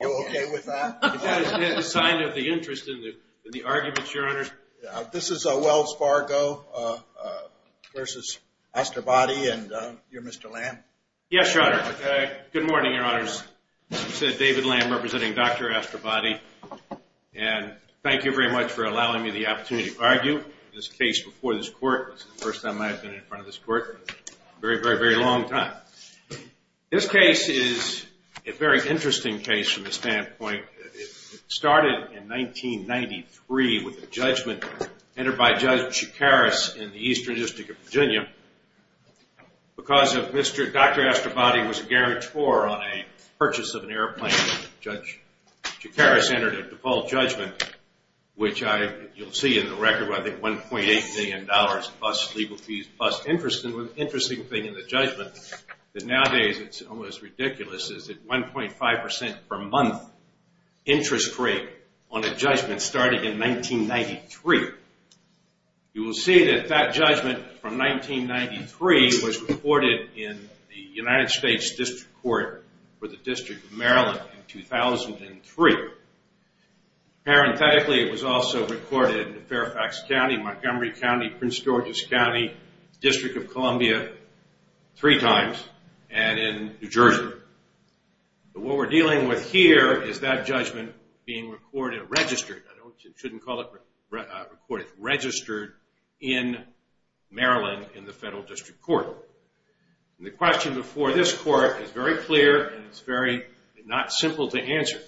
You okay with that? It's a sign of the interest in the argument, Your Honors. This is Wells Fargo versus Asterbadi, and you're Mr. Lamb. Yes, Your Honor. Good morning, Your Honors. This is David Lamb representing Dr. Asterbadi, and thank you very much for allowing me the opportunity to argue this case before this court. This is the first time I've been in front of this court in a very, very, very long time. This case is a very interesting case from a standpoint. It started in 1993 with a judgment entered by Judge Chikaris in the Eastern District of Virginia. Because Dr. Asterbadi was a guarantor on a purchase of an airplane, Judge Chikaris entered a default judgment, which you'll see in the record, where I think $1.8 million plus legal fees plus interest. And the interesting thing in the judgment, that nowadays it's almost ridiculous, is that 1.5% per month interest rate on a judgment started in 1993. You will see that that judgment from 1993 was reported in the United States District Court for the District of Maryland in 2003. Parenthetically, it was also recorded in Fairfax County, Montgomery County, Prince George's County, District of Columbia three times, and in New Jersey. But what we're dealing with here is that judgment being recorded, registered. I shouldn't call it recorded. Registered in Maryland in the Federal District Court. And the question before this court is very clear, and it's very not simple to answer,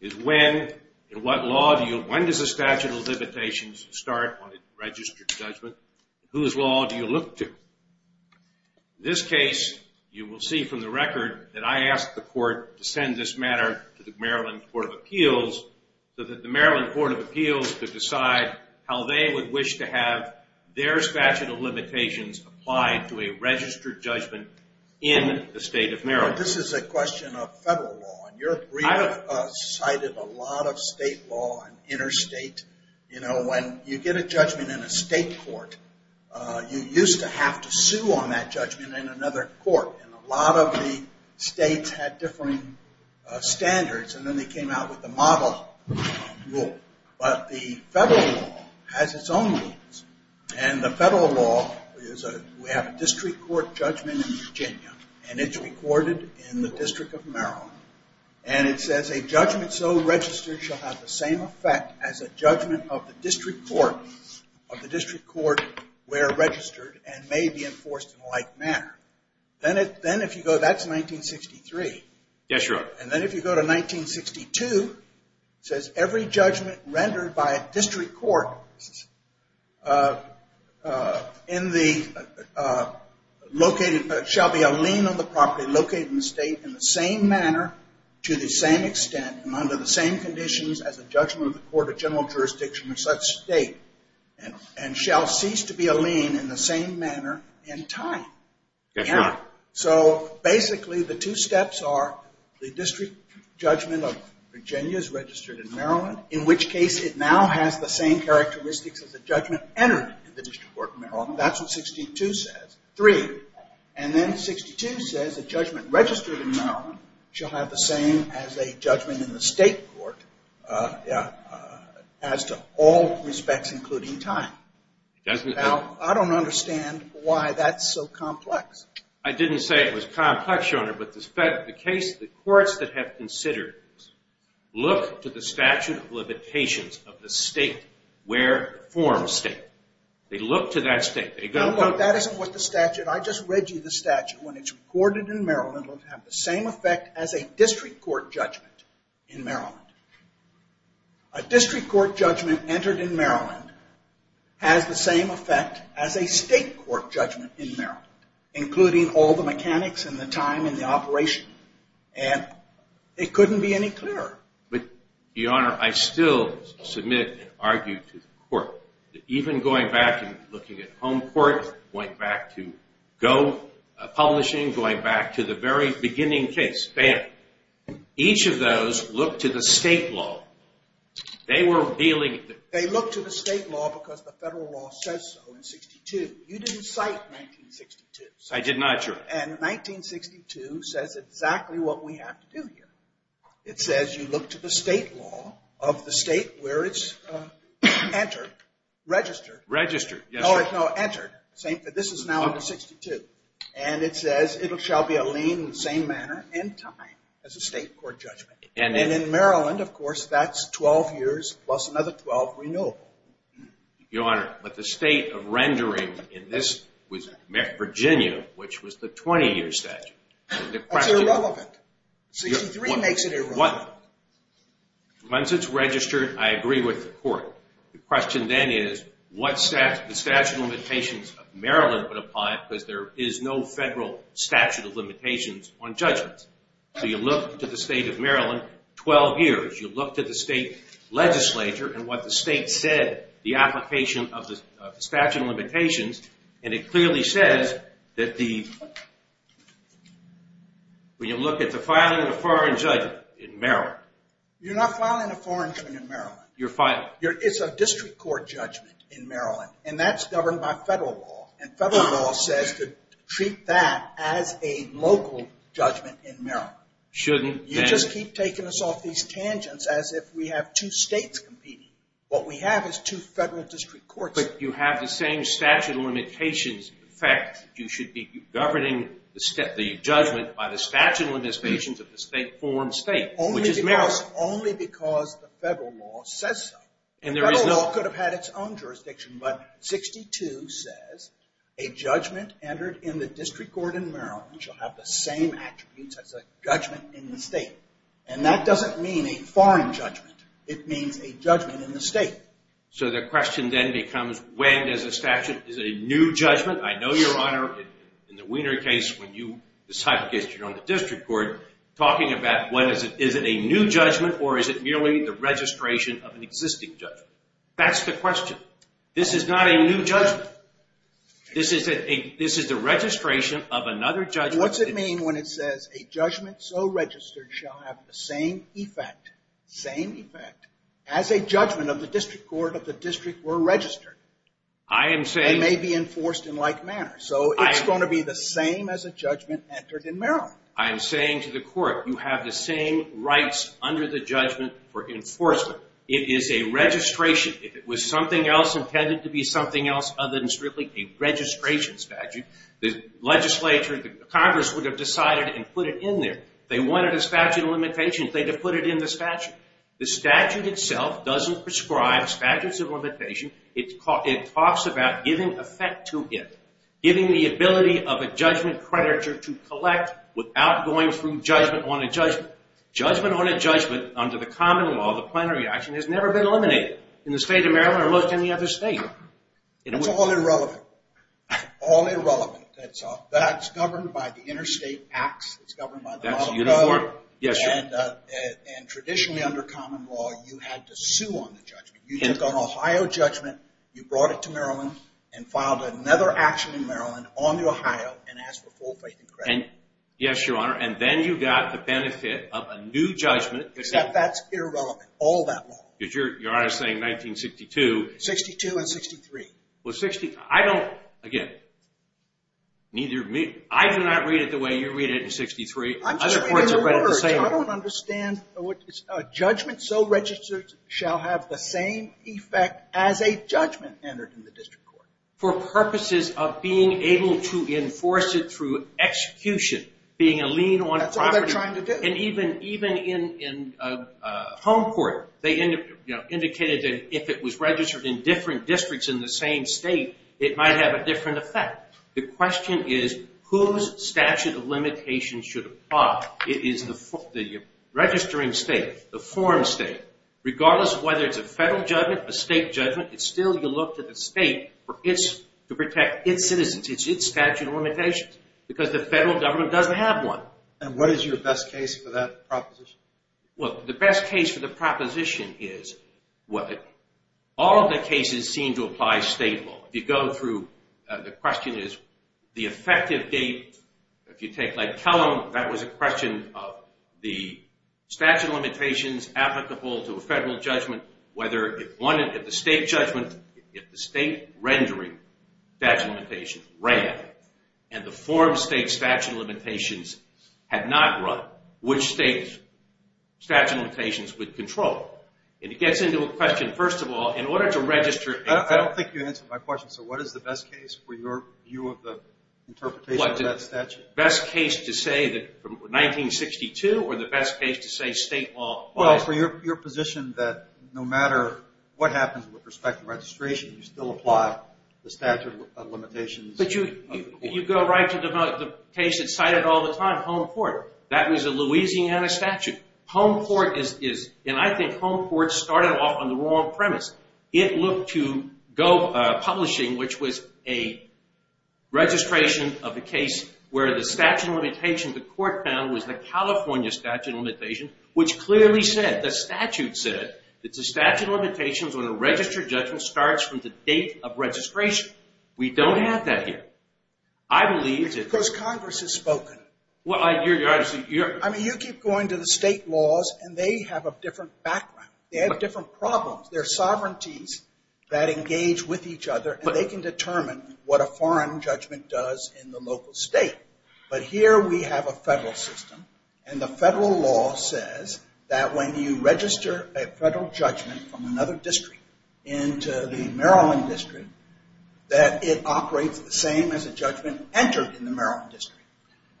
is when and what law do you, when does a statute of limitations start on a registered judgment? Whose law do you look to? In this case, you will see from the record that I asked the court to send this matter to the Maryland Court of Appeals so that the Maryland Court of Appeals could decide how they would wish to have their statute of limitations applied to a registered judgment in the state of Maryland. This is a question of federal law, and your brief cited a lot of state law and interstate. You know, when you get a judgment in a state court, you used to have to sue on that judgment in another court, and a lot of the states had different standards, and then they came out with the model rule. But the federal law has its own rules. And the federal law is we have a district court judgment in Virginia, and it's recorded in the District of Maryland. And it says a judgment so registered shall have the same effect as a judgment of the district court where registered and may be enforced in a like manner. Then if you go, that's 1963. Yes, Your Honor. And then if you go to 1962, it says every judgment rendered by a district court shall be a lien on the property located in the state in the same manner to the same extent and under the same conditions as a judgment of the court of general jurisdiction of such state and shall cease to be a lien in the same manner in time. Yes, Your Honor. So basically the two steps are the district judgment of Virginia is registered in Maryland, in which case it now has the same characteristics as a judgment entered in the district court of Maryland. That's what 62 says. Three. And then 62 says a judgment registered in Maryland shall have the same as a judgment in the state court as to all respects including time. Now, I don't understand why that's so complex. I didn't say it was complex, Your Honor. But the courts that have considered this look to the statute of limitations of the state where it forms state. They look to that state. No, but that isn't what the statute. I just read you the statute. When it's recorded in Maryland, it will have the same effect as a district court judgment in Maryland. A district court judgment entered in Maryland has the same effect as a state court judgment in Maryland including all the mechanics and the time and the operation. And it couldn't be any clearer. But, Your Honor, I still submit and argue to the court that even going back and looking at Home Court, going back to Go Publishing, going back to the very beginning case, BAM, each of those look to the state law. They were dealing with it. They look to the state law because the federal law says so in 62. You didn't cite 1962. I did not, Your Honor. And 1962 says exactly what we have to do here. It says you look to the state law of the state where it's entered, registered. Registered. No, entered. This is now under 62. And it says it shall be a lien in the same manner and time as a state court judgment. And in Maryland, of course, that's 12 years plus another 12 renewable. Your Honor, but the state of rendering in this was Virginia, which was the 20-year statute. That's irrelevant. 63 makes it irrelevant. Once it's registered, I agree with the court. The question then is what statute of limitations of Maryland would apply because there is no federal statute of limitations on judgments. So you look to the state of Maryland, 12 years. You look to the state legislature and what the state said, the application of the statute of limitations, and it clearly says that when you look at the filing of a foreign judgment in Maryland. You're not filing a foreign judgment in Maryland. You're filing. It's a district court judgment in Maryland, and that's governed by federal law. And federal law says to treat that as a local judgment in Maryland. Shouldn't then. You just keep taking us off these tangents as if we have two states competing. What we have is two federal district courts. But you have the same statute of limitations. In fact, you should be governing the judgment by the statute of limitations of the state form state, which is Maryland. Only because the federal law says so. And there is no. Federal law could have had its own jurisdiction, but 62 says a judgment entered in the district court in Maryland shall have the same attributes as a judgment in the state. And that doesn't mean a foreign judgment. It means a judgment in the state. So the question then becomes when does a statute. Is it a new judgment? I know, Your Honor, in the Wiener case, when you decided against it on the district court, talking about is it a new judgment or is it merely the registration of an existing judgment? That's the question. This is not a new judgment. This is the registration of another judgment. What's it mean when it says a judgment so registered shall have the same effect, same effect, as a judgment of the district court if the district were registered? I am saying. And may be enforced in like manner. So it's going to be the same as a judgment entered in Maryland. I am saying to the court, you have the same rights under the judgment for enforcement. It is a registration. If it was something else intended to be something else other than strictly a registration statute, the legislature, the Congress would have decided and put it in there. If they wanted a statute of limitations, they would have put it in the statute. The statute itself doesn't prescribe statutes of limitation. It talks about giving effect to it, giving the ability of a judgment creditor to collect without going through judgment on a judgment. Judgment on a judgment under the common law, the plenary action, has never been eliminated in the state of Maryland or most any other state. It's all irrelevant. All irrelevant. That's governed by the interstate acts. That's a uniform. Yes, sir. And traditionally under common law, you had to sue on the judgment. You took an Ohio judgment, you brought it to Maryland, and filed another action in Maryland on the Ohio and asked for full faith and credit. Yes, Your Honor. And then you got the benefit of a new judgment. Except that's irrelevant. All that law. Your Honor is saying 1962. 62 and 63. I don't, again, I do not read it the way you read it in 63. I'm just reading the words. I don't understand. A judgment so registered shall have the same effect as a judgment entered in the district court. For purposes of being able to enforce it through execution, being a lien on property. That's all they're trying to do. And even in home court, they indicated that if it was registered in different districts in the same state, it might have a different effect. The question is whose statute of limitations should apply. It is the registering state, the form state. Regardless of whether it's a federal judgment, a state judgment, it's still you look to the state to protect its citizens, its statute of limitations. Because the federal government doesn't have one. And what is your best case for that proposition? Well, the best case for the proposition is all of the cases seem to apply state law. If you go through, the question is the effective date. If you take, like, Kellam, that was a question of the statute of limitations applicable to a federal judgment, whether if the state judgment, if the state rendering statute of limitations ran, and the form state statute of limitations had not run, which state statute of limitations would control? And it gets into a question, first of all, in order to register a federal judgment. I don't think you answered my question. So what is the best case for your view of the interpretation of that statute? The best case to say that from 1962 or the best case to say state law applies? Well, for your position that no matter what happens with respect to registration, you still apply the statute of limitations. But you go right to the case that's cited all the time, Home Court. That was a Louisiana statute. Home Court is, and I think Home Court started off on the wrong premise. It looked to go publishing, which was a registration of a case where the statute of limitations, the court found was the California statute of limitations, which clearly said, the statute said that the statute of limitations on a registered judgment starts from the date of registration. We don't have that here. Because Congress has spoken. I mean, you keep going to the state laws, and they have a different background. They have different problems. There are sovereignties that engage with each other, and they can determine what a foreign judgment does in the local state. But here we have a federal system, and the federal law says that when you register a federal judgment from another district into the Maryland district, that it operates the same as a judgment entered in the Maryland district.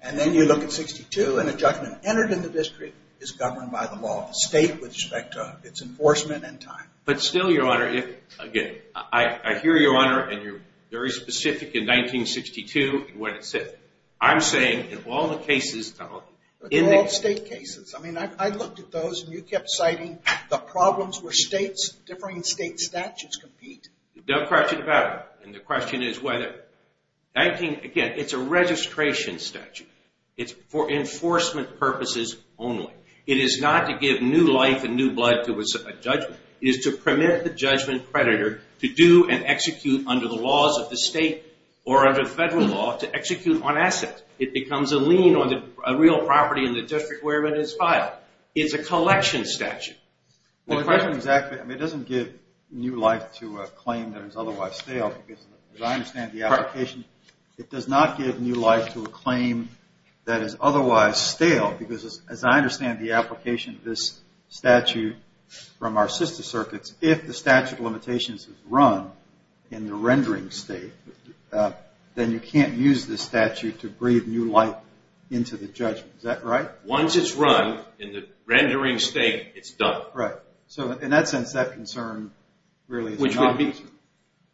And then you look at 62, and a judgment entered in the district is governed by the law of the state with respect to its enforcement and time. But still, Your Honor, again, I hear you, Your Honor, and you're very specific in 1962 in what it said. I'm saying in all the cases in the state cases, I mean, I looked at those, and you kept citing the problems where states, different state statutes compete. Don't correct me if I'm wrong, and the question is whether. Again, it's a registration statute. It's for enforcement purposes only. It is not to give new life and new blood to a judgment. It is to permit the judgment creditor to do and execute under the laws of the state or under federal law to execute on assets. It becomes a lien on a real property in the district where it is filed. It's a collection statute. Well, it doesn't exactly, I mean, it doesn't give new life to a claim that is otherwise stale. As I understand the application, it does not give new life to a claim that is otherwise stale because as I understand the application of this statute from our sister circuits, if the statute of limitations is run in the rendering state, then you can't use this statute to breathe new life into the judgment. Is that right? Once it's run in the rendering state, it's done. Right. So in that sense, that concern really is an obvious one. Which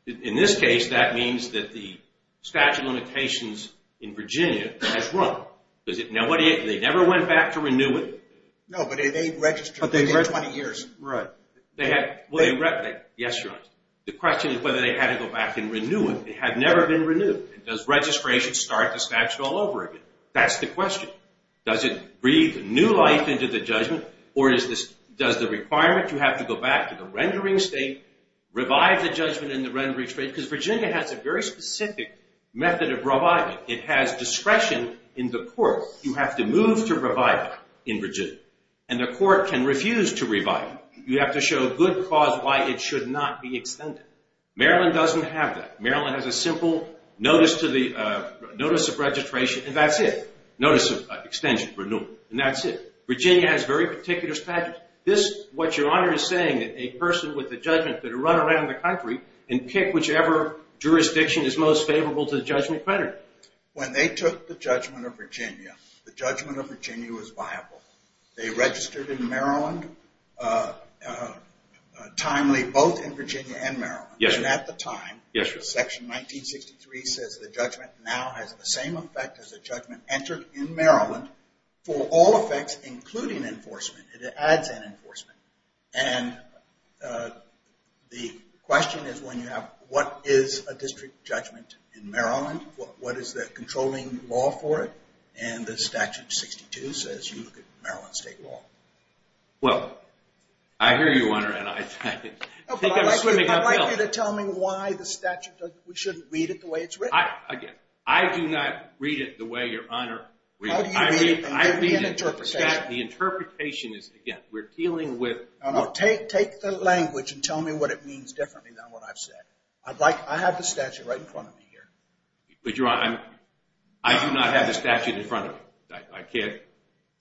would be, in this case, that means that the statute of limitations in Virginia has run. Does it, now what do you, they never went back to renew it? No, but they registered within 20 years. Right. They had, well, they, yes, your honor. The question is whether they had to go back and renew it. It had never been renewed. Does registration start the statute all over again? That's the question. Does it breathe new life into the judgment? Or does the requirement you have to go back to the rendering state, revive the judgment in the rendering state? Because Virginia has a very specific method of reviving it. It has discretion in the court. You have to move to revive it in Virginia. And the court can refuse to revive it. You have to show good cause why it should not be extended. Maryland doesn't have that. Maryland has a simple notice of registration, and that's it. Notice of extension, renewal, and that's it. Virginia has very particular statutes. This, what your honor is saying, a person with a judgment could run around the country and pick whichever jurisdiction is most favorable to the judgment creditor. When they took the judgment of Virginia, the judgment of Virginia was viable. They registered in Maryland timely, both in Virginia and Maryland. Yes, sir. And at the time. Yes, sir. Section 1963 says the judgment now has the same effect as the judgment entered in Maryland for all effects, including enforcement. It adds an enforcement. And the question is when you have what is a district judgment in Maryland? What is the controlling law for it? And the statute 62 says you look at Maryland state law. Well, I hear you, Your Honor, and I think I'm swimming up hill. I'd like you to tell me why the statute. We shouldn't read it the way it's written. I do not read it the way, Your Honor. How do you read it? Give me an interpretation. The interpretation is, again, we're dealing with. Take the language and tell me what it means differently than what I've said. I have the statute right in front of me here. But, Your Honor, I do not have the statute in front of me. I can't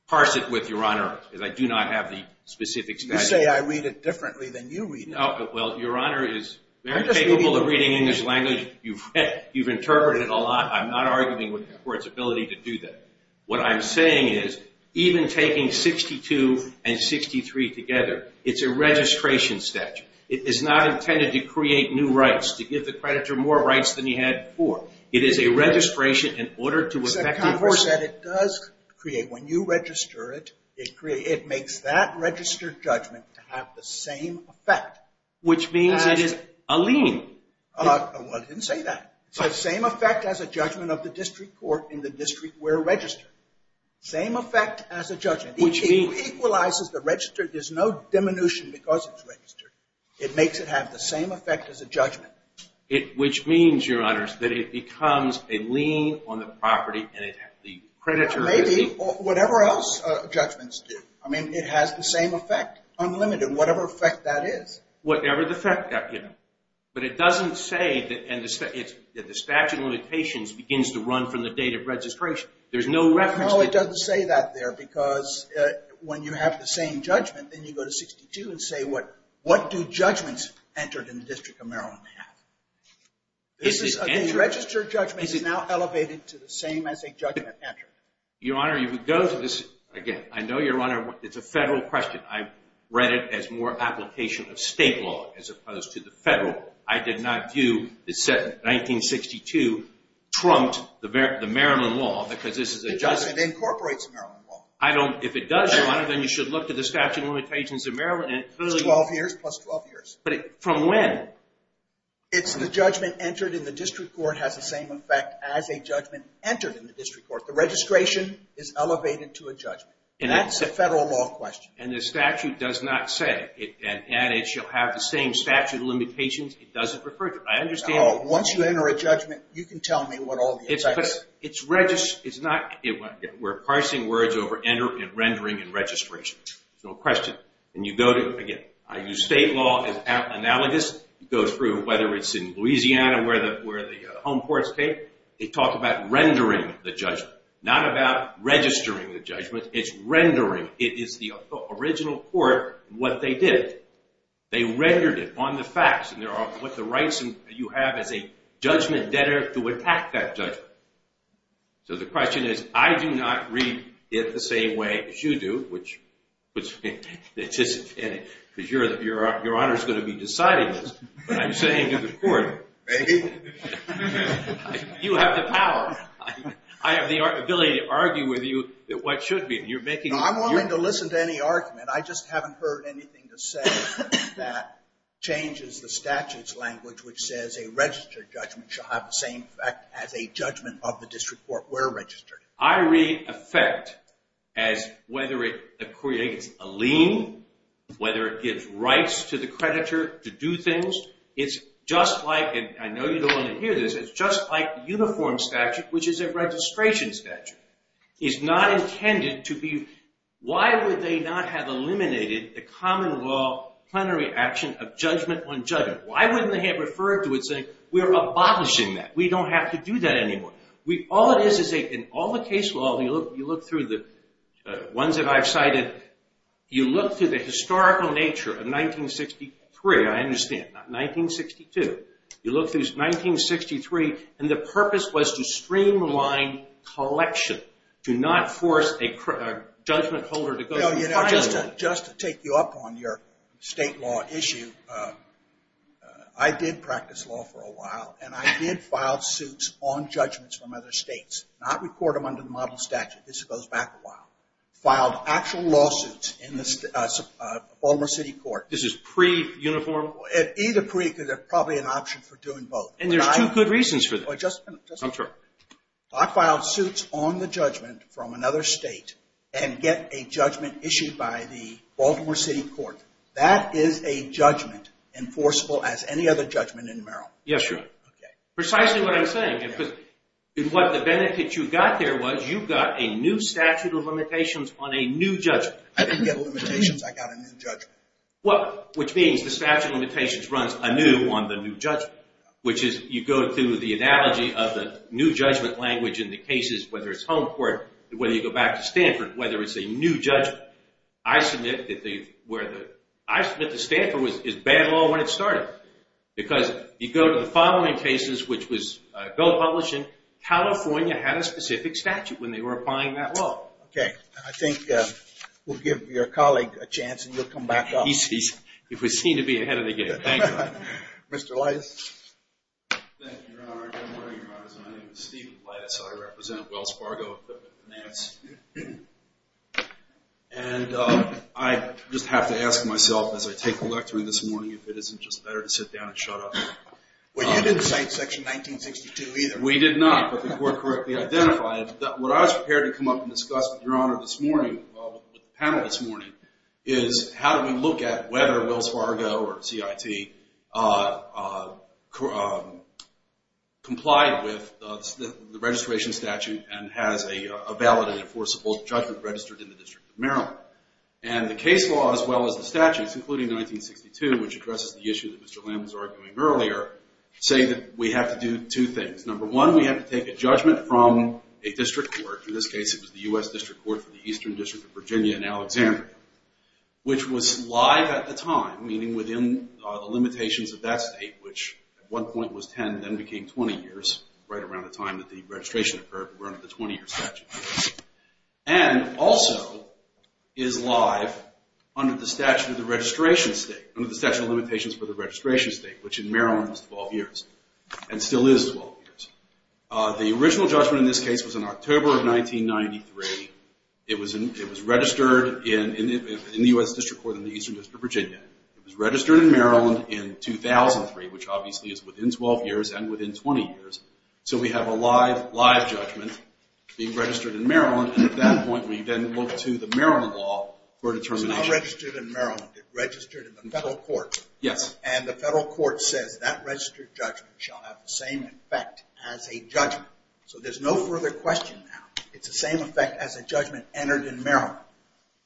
parse it with Your Honor because I do not have the specific statute. You say I read it differently than you read it. Well, Your Honor is very capable of reading English language. You've interpreted it a lot. I'm not arguing with the court's ability to do that. What I'm saying is even taking 62 and 63 together, it's a registration statute. It is not intended to create new rights, to give the creditor more rights than he had before. It is a registration in order to effect enforcement. Your Honor said it does create. When you register it, it makes that registered judgment to have the same effect. Which means it is a lien. Well, it didn't say that. It said same effect as a judgment of the district court in the district where registered. Same effect as a judgment. It equalizes the register. There's no diminution because it's registered. It makes it have the same effect as a judgment. Which means, Your Honor, that it becomes a lien on the property and the creditor. Maybe. Whatever else judgments do. I mean, it has the same effect, unlimited, whatever effect that is. Whatever the effect. But it doesn't say that the statute of limitations begins to run from the date of registration. There's no reference. No, it doesn't say that there because when you have the same judgment, then you go to 62 and say what do judgments entered in the district of Maryland have. This is a registered judgment. This is now elevated to the same as a judgment entered. Your Honor, if we go to this again. I know, Your Honor, it's a federal question. I've read it as more application of state law as opposed to the federal. I did not view the 1962 trumped the Maryland law because this is a judgment. The judgment incorporates the Maryland law. If it does, Your Honor, then you should look to the statute of limitations of Maryland. It's 12 years plus 12 years. From when? It's the judgment entered in the district court has the same effect as a judgment entered in the district court. The registration is elevated to a judgment. And that's a federal law question. And the statute does not say. And it shall have the same statute of limitations. It doesn't refer to it. I understand. Once you enter a judgment, you can tell me what all the effects are. We're parsing words over rendering and registration. No question. And you go to, again, I use state law as analogous. It goes through whether it's in Louisiana where the home courts take. They talk about rendering the judgment. Not about registering the judgment. It's rendering. It is the original court what they did. They rendered it on the facts. And there are what the rights you have as a judgment debtor to attack that judgment. So the question is, I do not read it the same way as you do, which puts me in anticipation. Because Your Honor is going to be deciding this. I'm saying to the court, you have the power. I have the ability to argue with you what should be. I'm willing to listen to any argument. I just haven't heard anything to say that changes the statute's language, which says a registered judgment shall have the same effect as a judgment of the district court where registered. I read effect as whether it creates a lien, whether it gives rights to the creditor to do things. It's just like, and I know you don't want to hear this. It's just like uniform statute, which is a registration statute. It's not intended to be. Why would they not have eliminated the common law plenary action of judgment on judgment? Why wouldn't they have referred to it saying, we're abolishing that. We don't have to do that anymore. All it is, in all the case law, you look through the ones that I've cited, you look through the historical nature of 1963, I understand, not 1962. You look through 1963, and the purpose was to streamline collection, to not force a judgment holder to go through filing. Just to take you up on your state law issue, I did practice law for a while, and I did file suits on judgments from other states, not record them under the model statute. This goes back a while. Filed actual lawsuits in the Baltimore City Court. This is pre-uniform? Either pre, because there's probably an option for doing both. And there's two good reasons for that. Just a minute. I'm sorry. I filed suits on the judgment from another state, and get a judgment issued by the Baltimore City Court. That is a judgment enforceable as any other judgment in Maryland. Yes, sir. Precisely what I'm saying, because what the benefit you got there was, you got a new statute of limitations on a new judgment. I didn't get limitations, I got a new judgment. Which means the statute of limitations runs anew on the new judgment, which is you go through the analogy of the new judgment language in the cases, whether it's home court, whether you go back to Stanford, whether it's a new judgment. I submit that the Stanford is bad law when it started, because you go to the following cases, which was bill published, and California had a specific statute when they were applying that law. Okay. I think we'll give your colleague a chance, and you'll come back up. If we seem to be ahead of the game. Thank you. Mr. Lattis. Thank you, Your Honor. Good morning, Your Honors. My name is Stephen Lattis. I represent Wells Fargo of the finance. And I just have to ask myself, as I take the lectern this morning, if it isn't just better to sit down and shut up. Well, you didn't cite section 1962 either. We did not, but the court correctly identified it. What I was prepared to come up and discuss with Your Honor this morning, with the panel this morning, is how do we look at whether Wells Fargo or CIT complied with the registration statute and has a valid and enforceable judgment registered in the District of Maryland. And the case law, as well as the statutes, including 1962, which addresses the issue that Mr. Lamb was arguing earlier, say that we have to do two things. Number one, we have to take a judgment from a district court. In this case, it was the U.S. District Court for the Eastern District of Virginia in Alexandria, which was live at the time, meaning within the limitations of that state, which at one point was 10, then became 20 years, right around the time that the registration occurred. We're under the 20-year statute. And also is live under the statute of the registration state, under the statute of limitations for the registration state, which in Maryland was 12 years and still is 12 years. The original judgment in this case was in October of 1993. It was registered in the U.S. District Court in the Eastern District of Virginia. It was registered in Maryland in 2003, which obviously is within 12 years and within 20 years. So we have a live judgment being registered in Maryland, and at that point we then look to the Maryland law for determination. It's not registered in Maryland. It registered in the federal court. Yes. And the federal court says that registered judgment shall have the same effect as a judgment. So there's no further question now. It's the same effect as a judgment entered in Maryland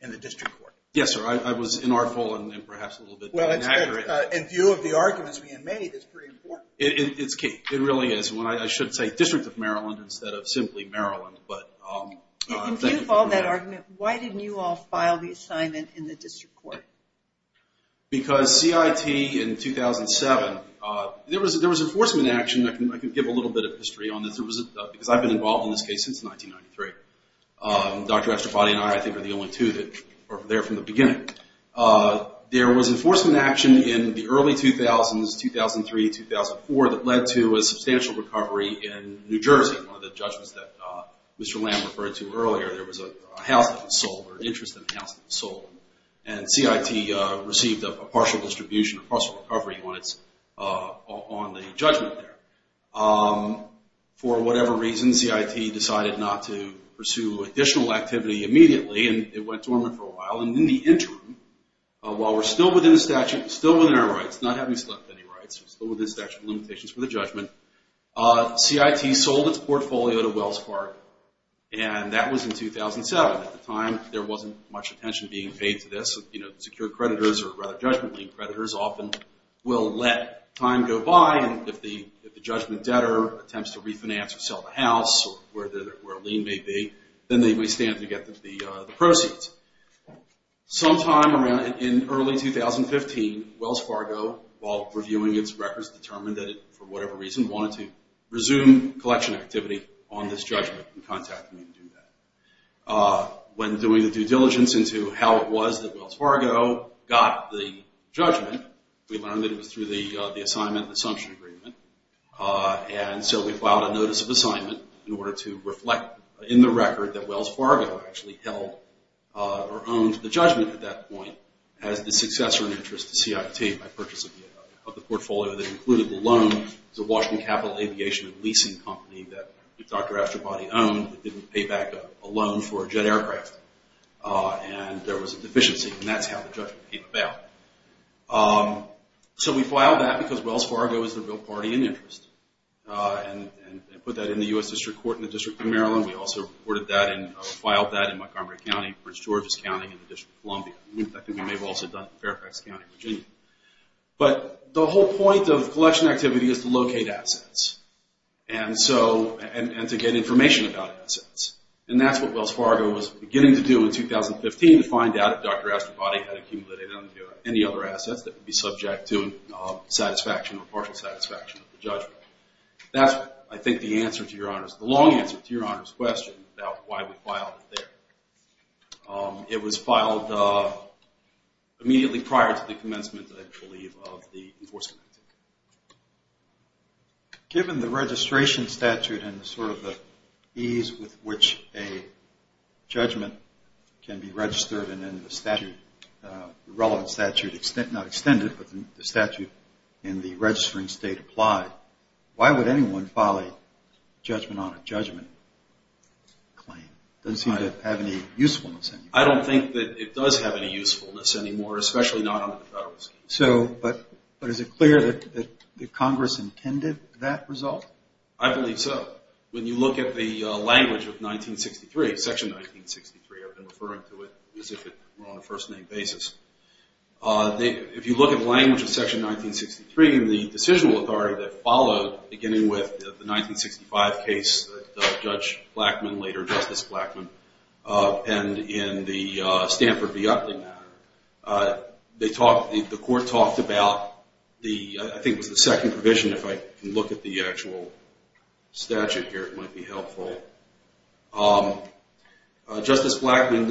in the district court. Yes, sir. I was inartful and perhaps a little bit inaccurate. Well, in view of the arguments we made, it's pretty important. It's key. It really is. I should say District of Maryland instead of simply Maryland. In view of all that argument, why didn't you all file the assignment in the district court? Because CIT in 2007, there was enforcement action. I can give a little bit of history on this, because I've been involved in this case since 1993. Dr. Esterfady and I, I think, are the only two that are there from the beginning. There was enforcement action in the early 2000s, 2003, 2004, that led to a substantial recovery in New Jersey. One of the judgments that Mr. Lamb referred to earlier, there was a house that was sold or an interest in a house that was sold, and CIT received a partial distribution, a partial recovery on the judgment there. For whatever reason, CIT decided not to pursue additional activity immediately, and it went dormant for a while. And in the interim, while we're still within statute, still within our rights, not having selected any rights, still within statute of limitations for the judgment, CIT sold its portfolio to Wells Fargo, and that was in 2007. At the time, there wasn't much attention being paid to this. Secured creditors, or rather judgment lien creditors, often will let time go by, and if the judgment debtor attempts to refinance or sell the house or where a lien may be, then they may stand to get the proceeds. Sometime around in early 2015, Wells Fargo, while reviewing its records, determined that it, for whatever reason, wanted to resume collection activity on this judgment and contacted me to do that. When doing the due diligence into how it was that Wells Fargo got the judgment, we learned that it was through the assignment and assumption agreement, and so we filed a notice of assignment in order to reflect in the record that Wells Fargo actually held or owned the judgment at that point as the successor in interest to CIT by purchase of the portfolio that included the loan to Washington Capital Aviation which is a new leasing company that Dr. Astropody owned that didn't pay back a loan for a jet aircraft, and there was a deficiency, and that's how the judgment came about. So we filed that because Wells Fargo is the real party in interest, and put that in the U.S. District Court in the District of Maryland. We also reported that and filed that in Montgomery County, Prince George's County, and the District of Columbia. But the whole point of collection activity is to locate assets and to get information about assets, and that's what Wells Fargo was beginning to do in 2015 to find out if Dr. Astropody had accumulated any other assets that would be subject to satisfaction or partial satisfaction of the judgment. That's, I think, the answer to Your Honor's, the long answer to Your Honor's question about why we filed it there. It was filed immediately prior to the commencement, I believe, of the enforcement. Given the registration statute and sort of the ease with which a judgment can be registered and then the relevant statute, not extended, but the statute in the registering state applied, why would anyone file a judgment on a judgment claim? It doesn't seem to have any usefulness anymore. I don't think that it does have any usefulness anymore, especially not on the federal scheme. So, but is it clear that Congress intended that result? I believe so. When you look at the language of 1963, Section 1963, I've been referring to it as if it were on a first-name basis. If you look at the language of Section 1963, the decisional authority that followed, beginning with the 1965 case that Judge Blackman, later Justice Blackman, penned in the Stanford v. Upley matter, they talked, the court talked about the, I think it was the second provision, if I can look at the actual statute here, it might be helpful. Justice Blackman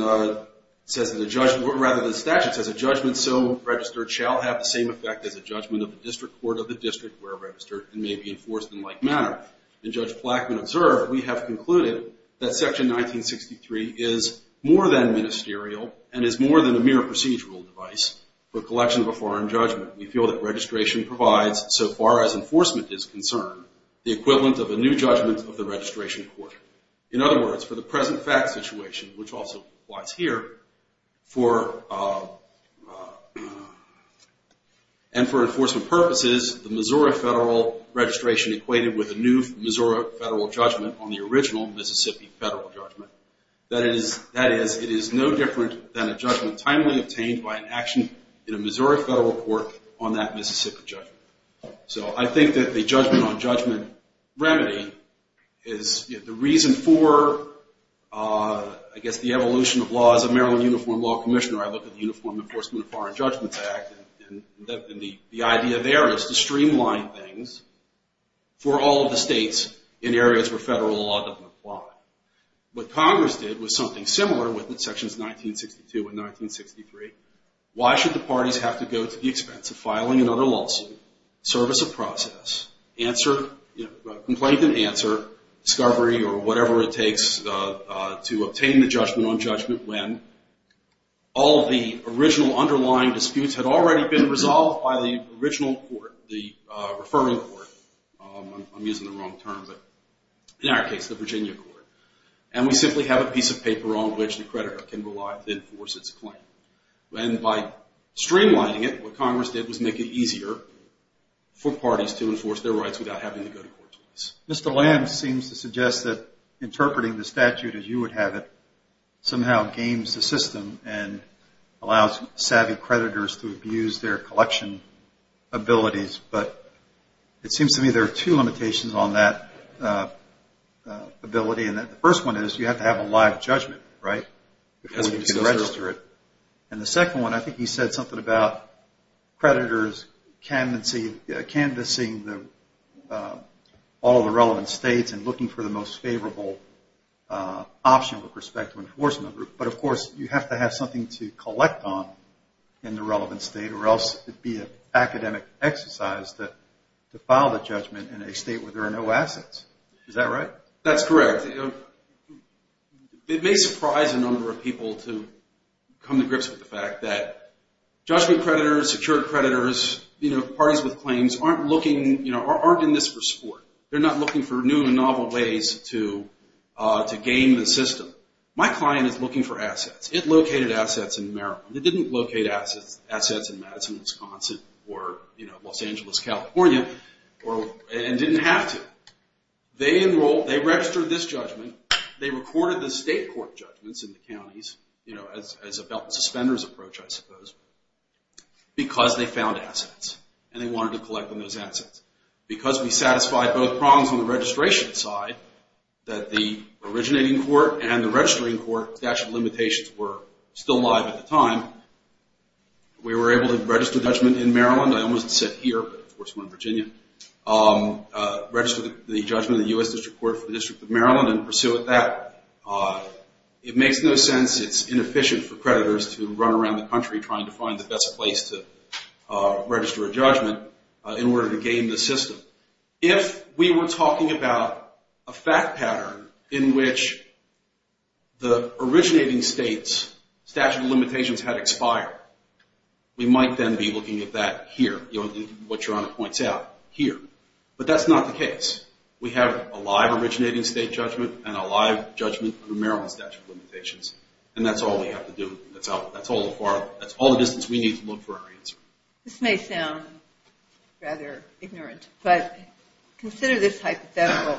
says that a judgment, or rather the statute says, a judgment so registered shall have the same effect as a judgment of the district court of the district where registered and may be enforced in like manner. And Judge Blackman observed, we have concluded that Section 1963 is more than ministerial and is more than a mere procedural device for collection of a foreign judgment. We feel that registration provides, so far as enforcement is concerned, the equivalent of a new judgment of the registration court. In other words, for the present fact situation, which also applies here, for, and for enforcement purposes, the Missouri federal registration equated with a new Missouri federal judgment on the original Mississippi federal judgment. That is, it is no different than a judgment timely obtained by an action in a Missouri federal court on that Mississippi judgment. So I think that the judgment on judgment remedy is the reason for, I guess the evolution of law as a Maryland Uniform Law Commissioner. I look at the Uniform Enforcement of Foreign Judgments Act, and the idea there is to streamline things for all of the states in areas where federal law doesn't apply. What Congress did was something similar with Sections 1962 and 1963. Why should the parties have to go to the expense of filing another lawsuit, service a process, answer, you know, complaint and answer, discovery or whatever it takes to obtain the judgment on judgment when all of the original underlying disputes had already been resolved by the original court, the referring court. I'm using the wrong term, but in our case, the Virginia court. And we simply have a piece of paper on which the creditor can rely to enforce its claim. And by streamlining it, what Congress did was make it easier for parties to enforce their rights without having to go to court twice. Mr. Lamb seems to suggest that interpreting the statute as you would have it somehow games the system and allows savvy creditors to abuse their collection abilities. But it seems to me there are two limitations on that ability. And the first one is you have to have a live judgment, right, before you can register it. And the second one, I think he said something about creditors canvassing all of the relevant states and looking for the most favorable option with respect to enforcement. But, of course, you have to have something to collect on in the relevant state or else it would be an academic exercise to file the judgment in a state where there are no assets. Is that right? That's correct. It may surprise a number of people to come to grips with the fact that judgment creditors, secured creditors, parties with claims aren't in this for sport. They're not looking for new and novel ways to game the system. My client is looking for assets. It located assets in Maryland. It didn't locate assets in Madison, Wisconsin, or Los Angeles, California, and didn't have to. They registered this judgment. They recorded the state court judgments in the counties as a belt and suspenders approach, I suppose, because they found assets and they wanted to collect on those assets. Because we satisfied both prongs on the registration side, that the originating court and the registering court statute of limitations were still live at the time, we were able to register judgment in Maryland. I almost said here, but of course we're in Virginia. Registered the judgment in the U.S. District Court for the District of Maryland and pursue it that way. It makes no sense. It's inefficient for creditors to run around the country trying to find the best place to register a judgment in order to game the system. If we were talking about a fact pattern in which the originating states statute of limitations had expired, we might then be looking at that here, what Your Honor points out here. But that's not the case. We have a live originating state judgment and a live judgment under Maryland statute of limitations, and that's all we have to do. That's all the distance we need to look for our answer. This may sound rather ignorant, but consider this hypothetical.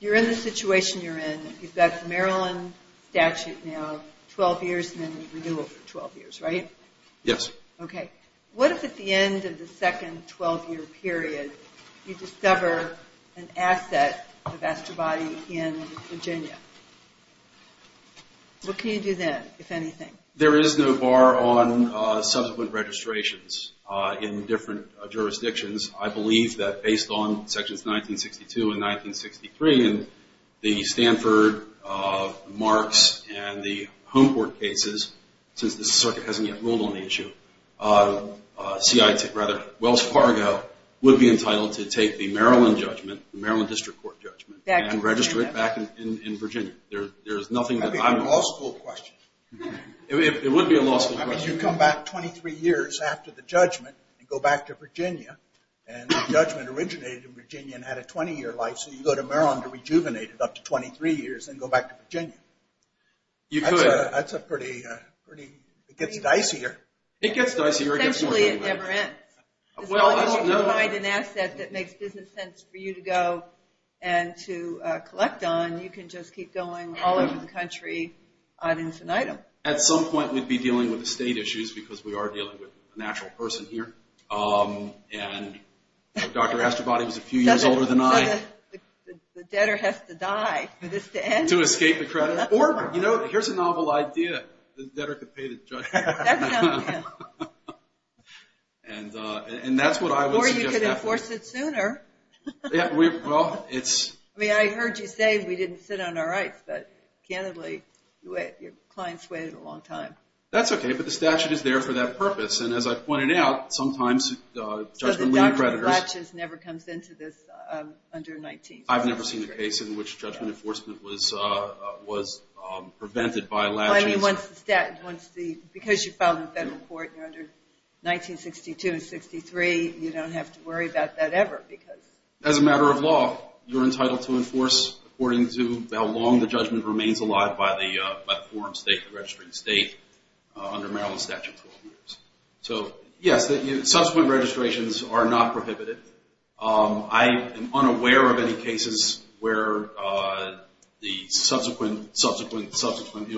You're in the situation you're in. You've got the Maryland statute now 12 years and then you renew it for 12 years, right? Yes. Okay. What if at the end of the second 12-year period you discover an asset, a vassal body in Virginia? What can you do then, if anything? There is no bar on subsequent registrations in different jurisdictions. I believe that based on sections 1962 and 1963 in the Stanford, Marks, and the Home Court cases, since the circuit hasn't yet ruled on the issue, Wells Fargo would be entitled to take the Maryland judgment, the Maryland District Court judgment, and register it back in Virginia. That would be a law school question. It would be a law school question. I mean, you come back 23 years after the judgment and go back to Virginia, and the judgment originated in Virginia and had a 20-year life, so you go to Maryland to rejuvenate it up to 23 years and go back to Virginia. You could. It gets dicier. It gets dicier. Essentially, it never ends. As long as you can find an asset that makes business sense for you to go and to collect on, you can just keep going all over the country, item for item. At some point, we'd be dealing with the state issues because we are dealing with a natural person here, and Dr. Astrobody was a few years older than I. The debtor has to die for this to end. To escape the credit. Or, you know, here's a novel idea. The debtor could pay the judge. That sounds good. And that's what I would suggest. Or you could enforce it sooner. Yeah, well, it's. I mean, I heard you say we didn't sit on our rights, but candidly, your clients waited a long time. That's okay, but the statute is there for that purpose, and as I pointed out, sometimes judgment lead creditors. So the document latches never comes into this under 19. I've never seen a case in which judgment enforcement was prevented by latches. I mean, once the statute, because you filed in federal court under 1962 and 63, you don't have to worry about that ever because. As a matter of law, you're entitled to enforce according to how long the judgment remains alive by the foreign state, the registering state, under Maryland statute for 12 years. So, yes, subsequent registrations are not prohibited. I am unaware of any cases where the subsequent, subsequent, subsequent,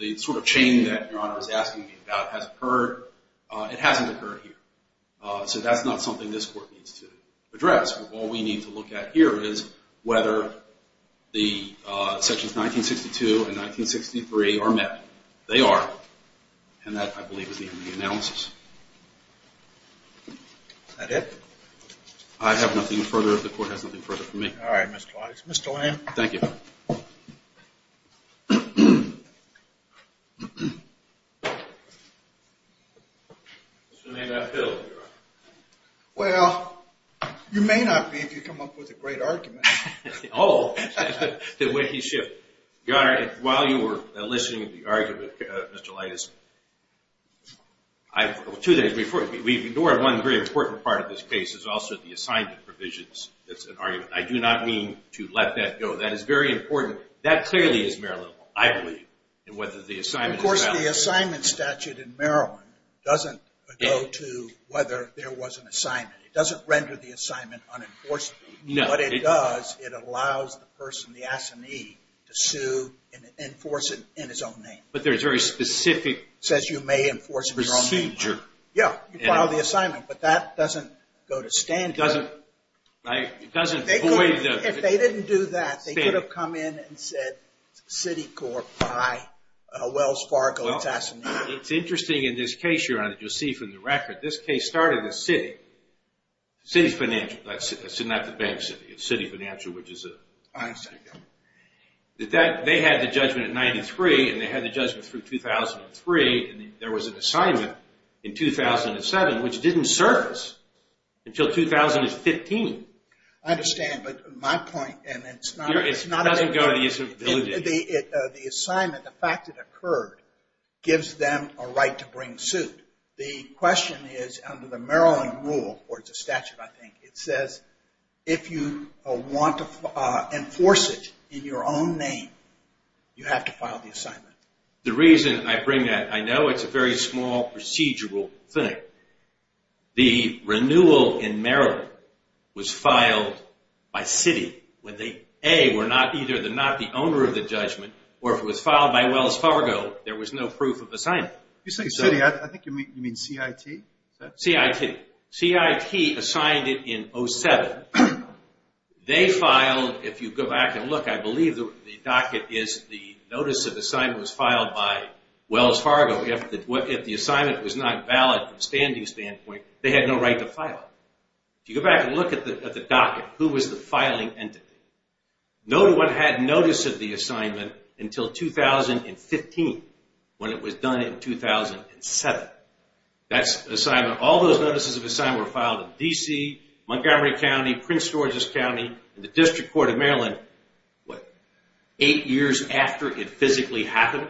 the sort of chain that your Honor is asking me about has occurred. It hasn't occurred here. So that's not something this court needs to address. All we need to look at here is whether the sections 1962 and 1963 are met. They are. And that, I believe, is the end of the analysis. Is that it? I have nothing further. The court has nothing further for me. All right, Mr. Leites. Mr. Lamb. Thank you. Mr. Maynard Hill, Your Honor. Well, you may not be if you come up with a great argument. Oh, the way he's shifted. Your Honor, while you were enlisting the argument, Mr. Leites, we've ignored one very important part of this case, is also the assignment provisions. That's an argument. I do not mean to let that go. That is very important. That clearly is Maryland law, I believe, in whether the assignment is valid. Of course, the assignment statute in Maryland doesn't go to whether there was an assignment. It doesn't render the assignment unenforced. No. What it does, it allows the person, the assignee, to sue and enforce it in his own name. But there's a very specific procedure. It says you may enforce it in your own name. Yeah, you file the assignment. But that doesn't go to standard. It doesn't void the… If they didn't do that, they could have come in and said, City Court by Wells Fargo, it's assigned. It's interesting in this case, Your Honor, that you'll see from the record, this case started as City. City's financial. It's not the bank city. It's City Financial, which is a… I understand. They had the judgment at 93, and they had the judgment through 2003, and there was an assignment in 2007, which didn't surface until 2015. I understand. But my point, and it's not… It doesn't go to the… The assignment, the fact it occurred, gives them a right to bring suit. The question is, under the Maryland rule, or it's a statute, I think, it says, if you want to enforce it in your own name, you have to file the assignment. The reason I bring that, I know it's a very small procedural thing. The renewal in Maryland was filed by City when they, A, were either not the owner of the judgment, or if it was filed by Wells Fargo, there was no proof of assignment. You say City, I think you mean CIT? CIT. CIT assigned it in 07. They filed, if you go back and look, I believe the docket is the notice of assignment was filed by Wells Fargo. If the assignment was not valid from a standing standpoint, they had no right to file it. If you go back and look at the docket, who was the filing entity? No one had notice of the assignment until 2015, when it was done in 2007. That's assignment. All those notices of assignment were filed in D.C., Montgomery County, Prince George's County, and the District Court of Maryland, what, eight years after it physically happened?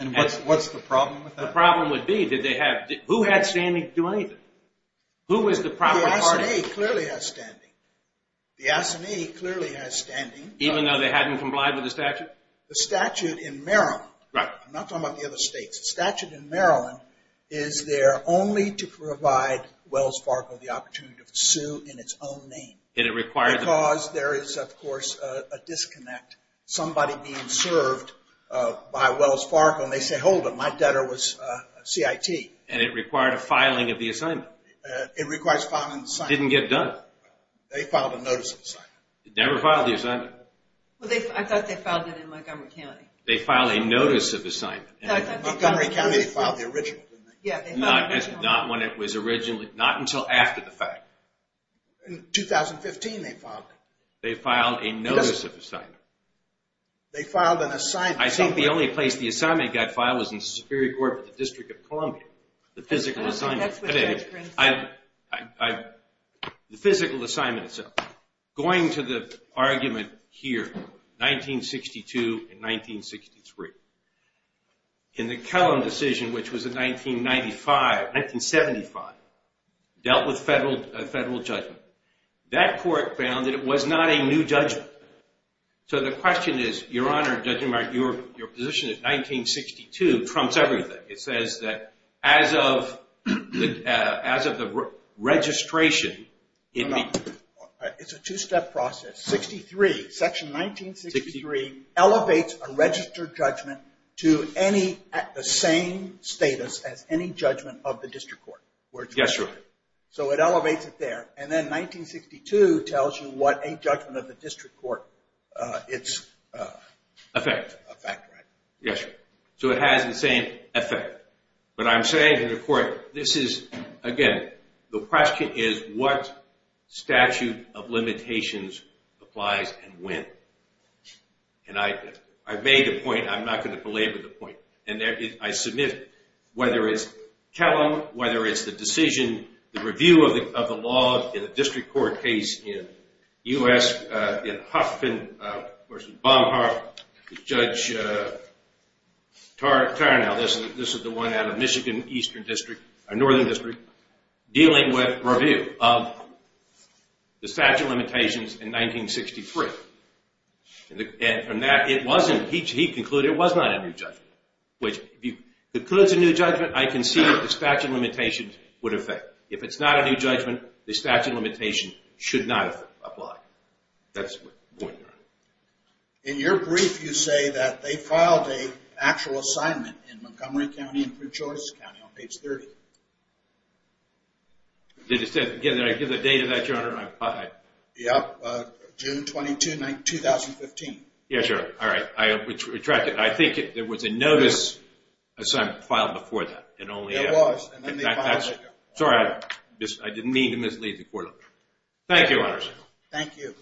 And what's the problem with that? The problem would be, did they have, who had standing to do anything? Who was the proper party? The SNA clearly has standing. The SNA clearly has standing. Even though they hadn't complied with the statute? The statute in Maryland. Right. I'm not talking about the other states. The statute in Maryland is there only to provide Wells Fargo the opportunity to sue in its own name. And it required them. Because there is, of course, a disconnect. Somebody being served by Wells Fargo, and they say, hold it, my debtor was CIT. And it required a filing of the assignment. It requires filing the assignment. It didn't get done. They filed a notice of assignment. They never filed the assignment. I thought they filed it in Montgomery County. They filed a notice of assignment. In Montgomery County, they filed the original, didn't they? Yeah. Not when it was originally, not until after the fact. In 2015, they filed it. They filed a notice of assignment. They filed an assignment. I think the only place the assignment got filed was in the Superior Court of the District of Columbia. The physical assignment. That's what the judge brings up. The physical assignment itself. Going to the argument here, 1962 and 1963. In the Kellam decision, which was in 1995, 1975, dealt with federal judgment. That court found that it was not a new judgment. So the question is, Your Honor, Judge Newmark, your position is 1962 trumps everything. It says that as of the registration. It's a two-step process. Section 1963 elevates a registered judgment to the same status as any judgment of the district court. Yes, Your Honor. So it elevates it there. And then 1962 tells you what a judgment of the district court, its effect. Yes, Your Honor. So it has the same effect. But I'm saying to the court, this is, again, the question is what statute of limitations applies and when. And I've made a point. I'm not going to belabor the point. And I submit whether it's Kellam, whether it's the decision, the review of the law in a district court case in U.S. In Huffman v. Baumgart, Judge Tarnow, this is the one out of Michigan Eastern District, Northern District, dealing with review of the statute of limitations in 1963. And from that, it wasn't, he concluded it was not a new judgment. Which if you conclude it's a new judgment, I can see what the statute of limitations would affect. But if it's not a new judgment, the statute of limitations should not apply. That's my point, Your Honor. In your brief, you say that they filed an actual assignment in Montgomery County and Prince George's County on page 30. Did it say, again, did I give the date of that, Your Honor? Yes, June 22, 2015. Yes, Your Honor. All right. I retract it. I think there was a notice filed before that. Sorry, I didn't mean to mislead the court. Thank you, Your Honor. Thank you.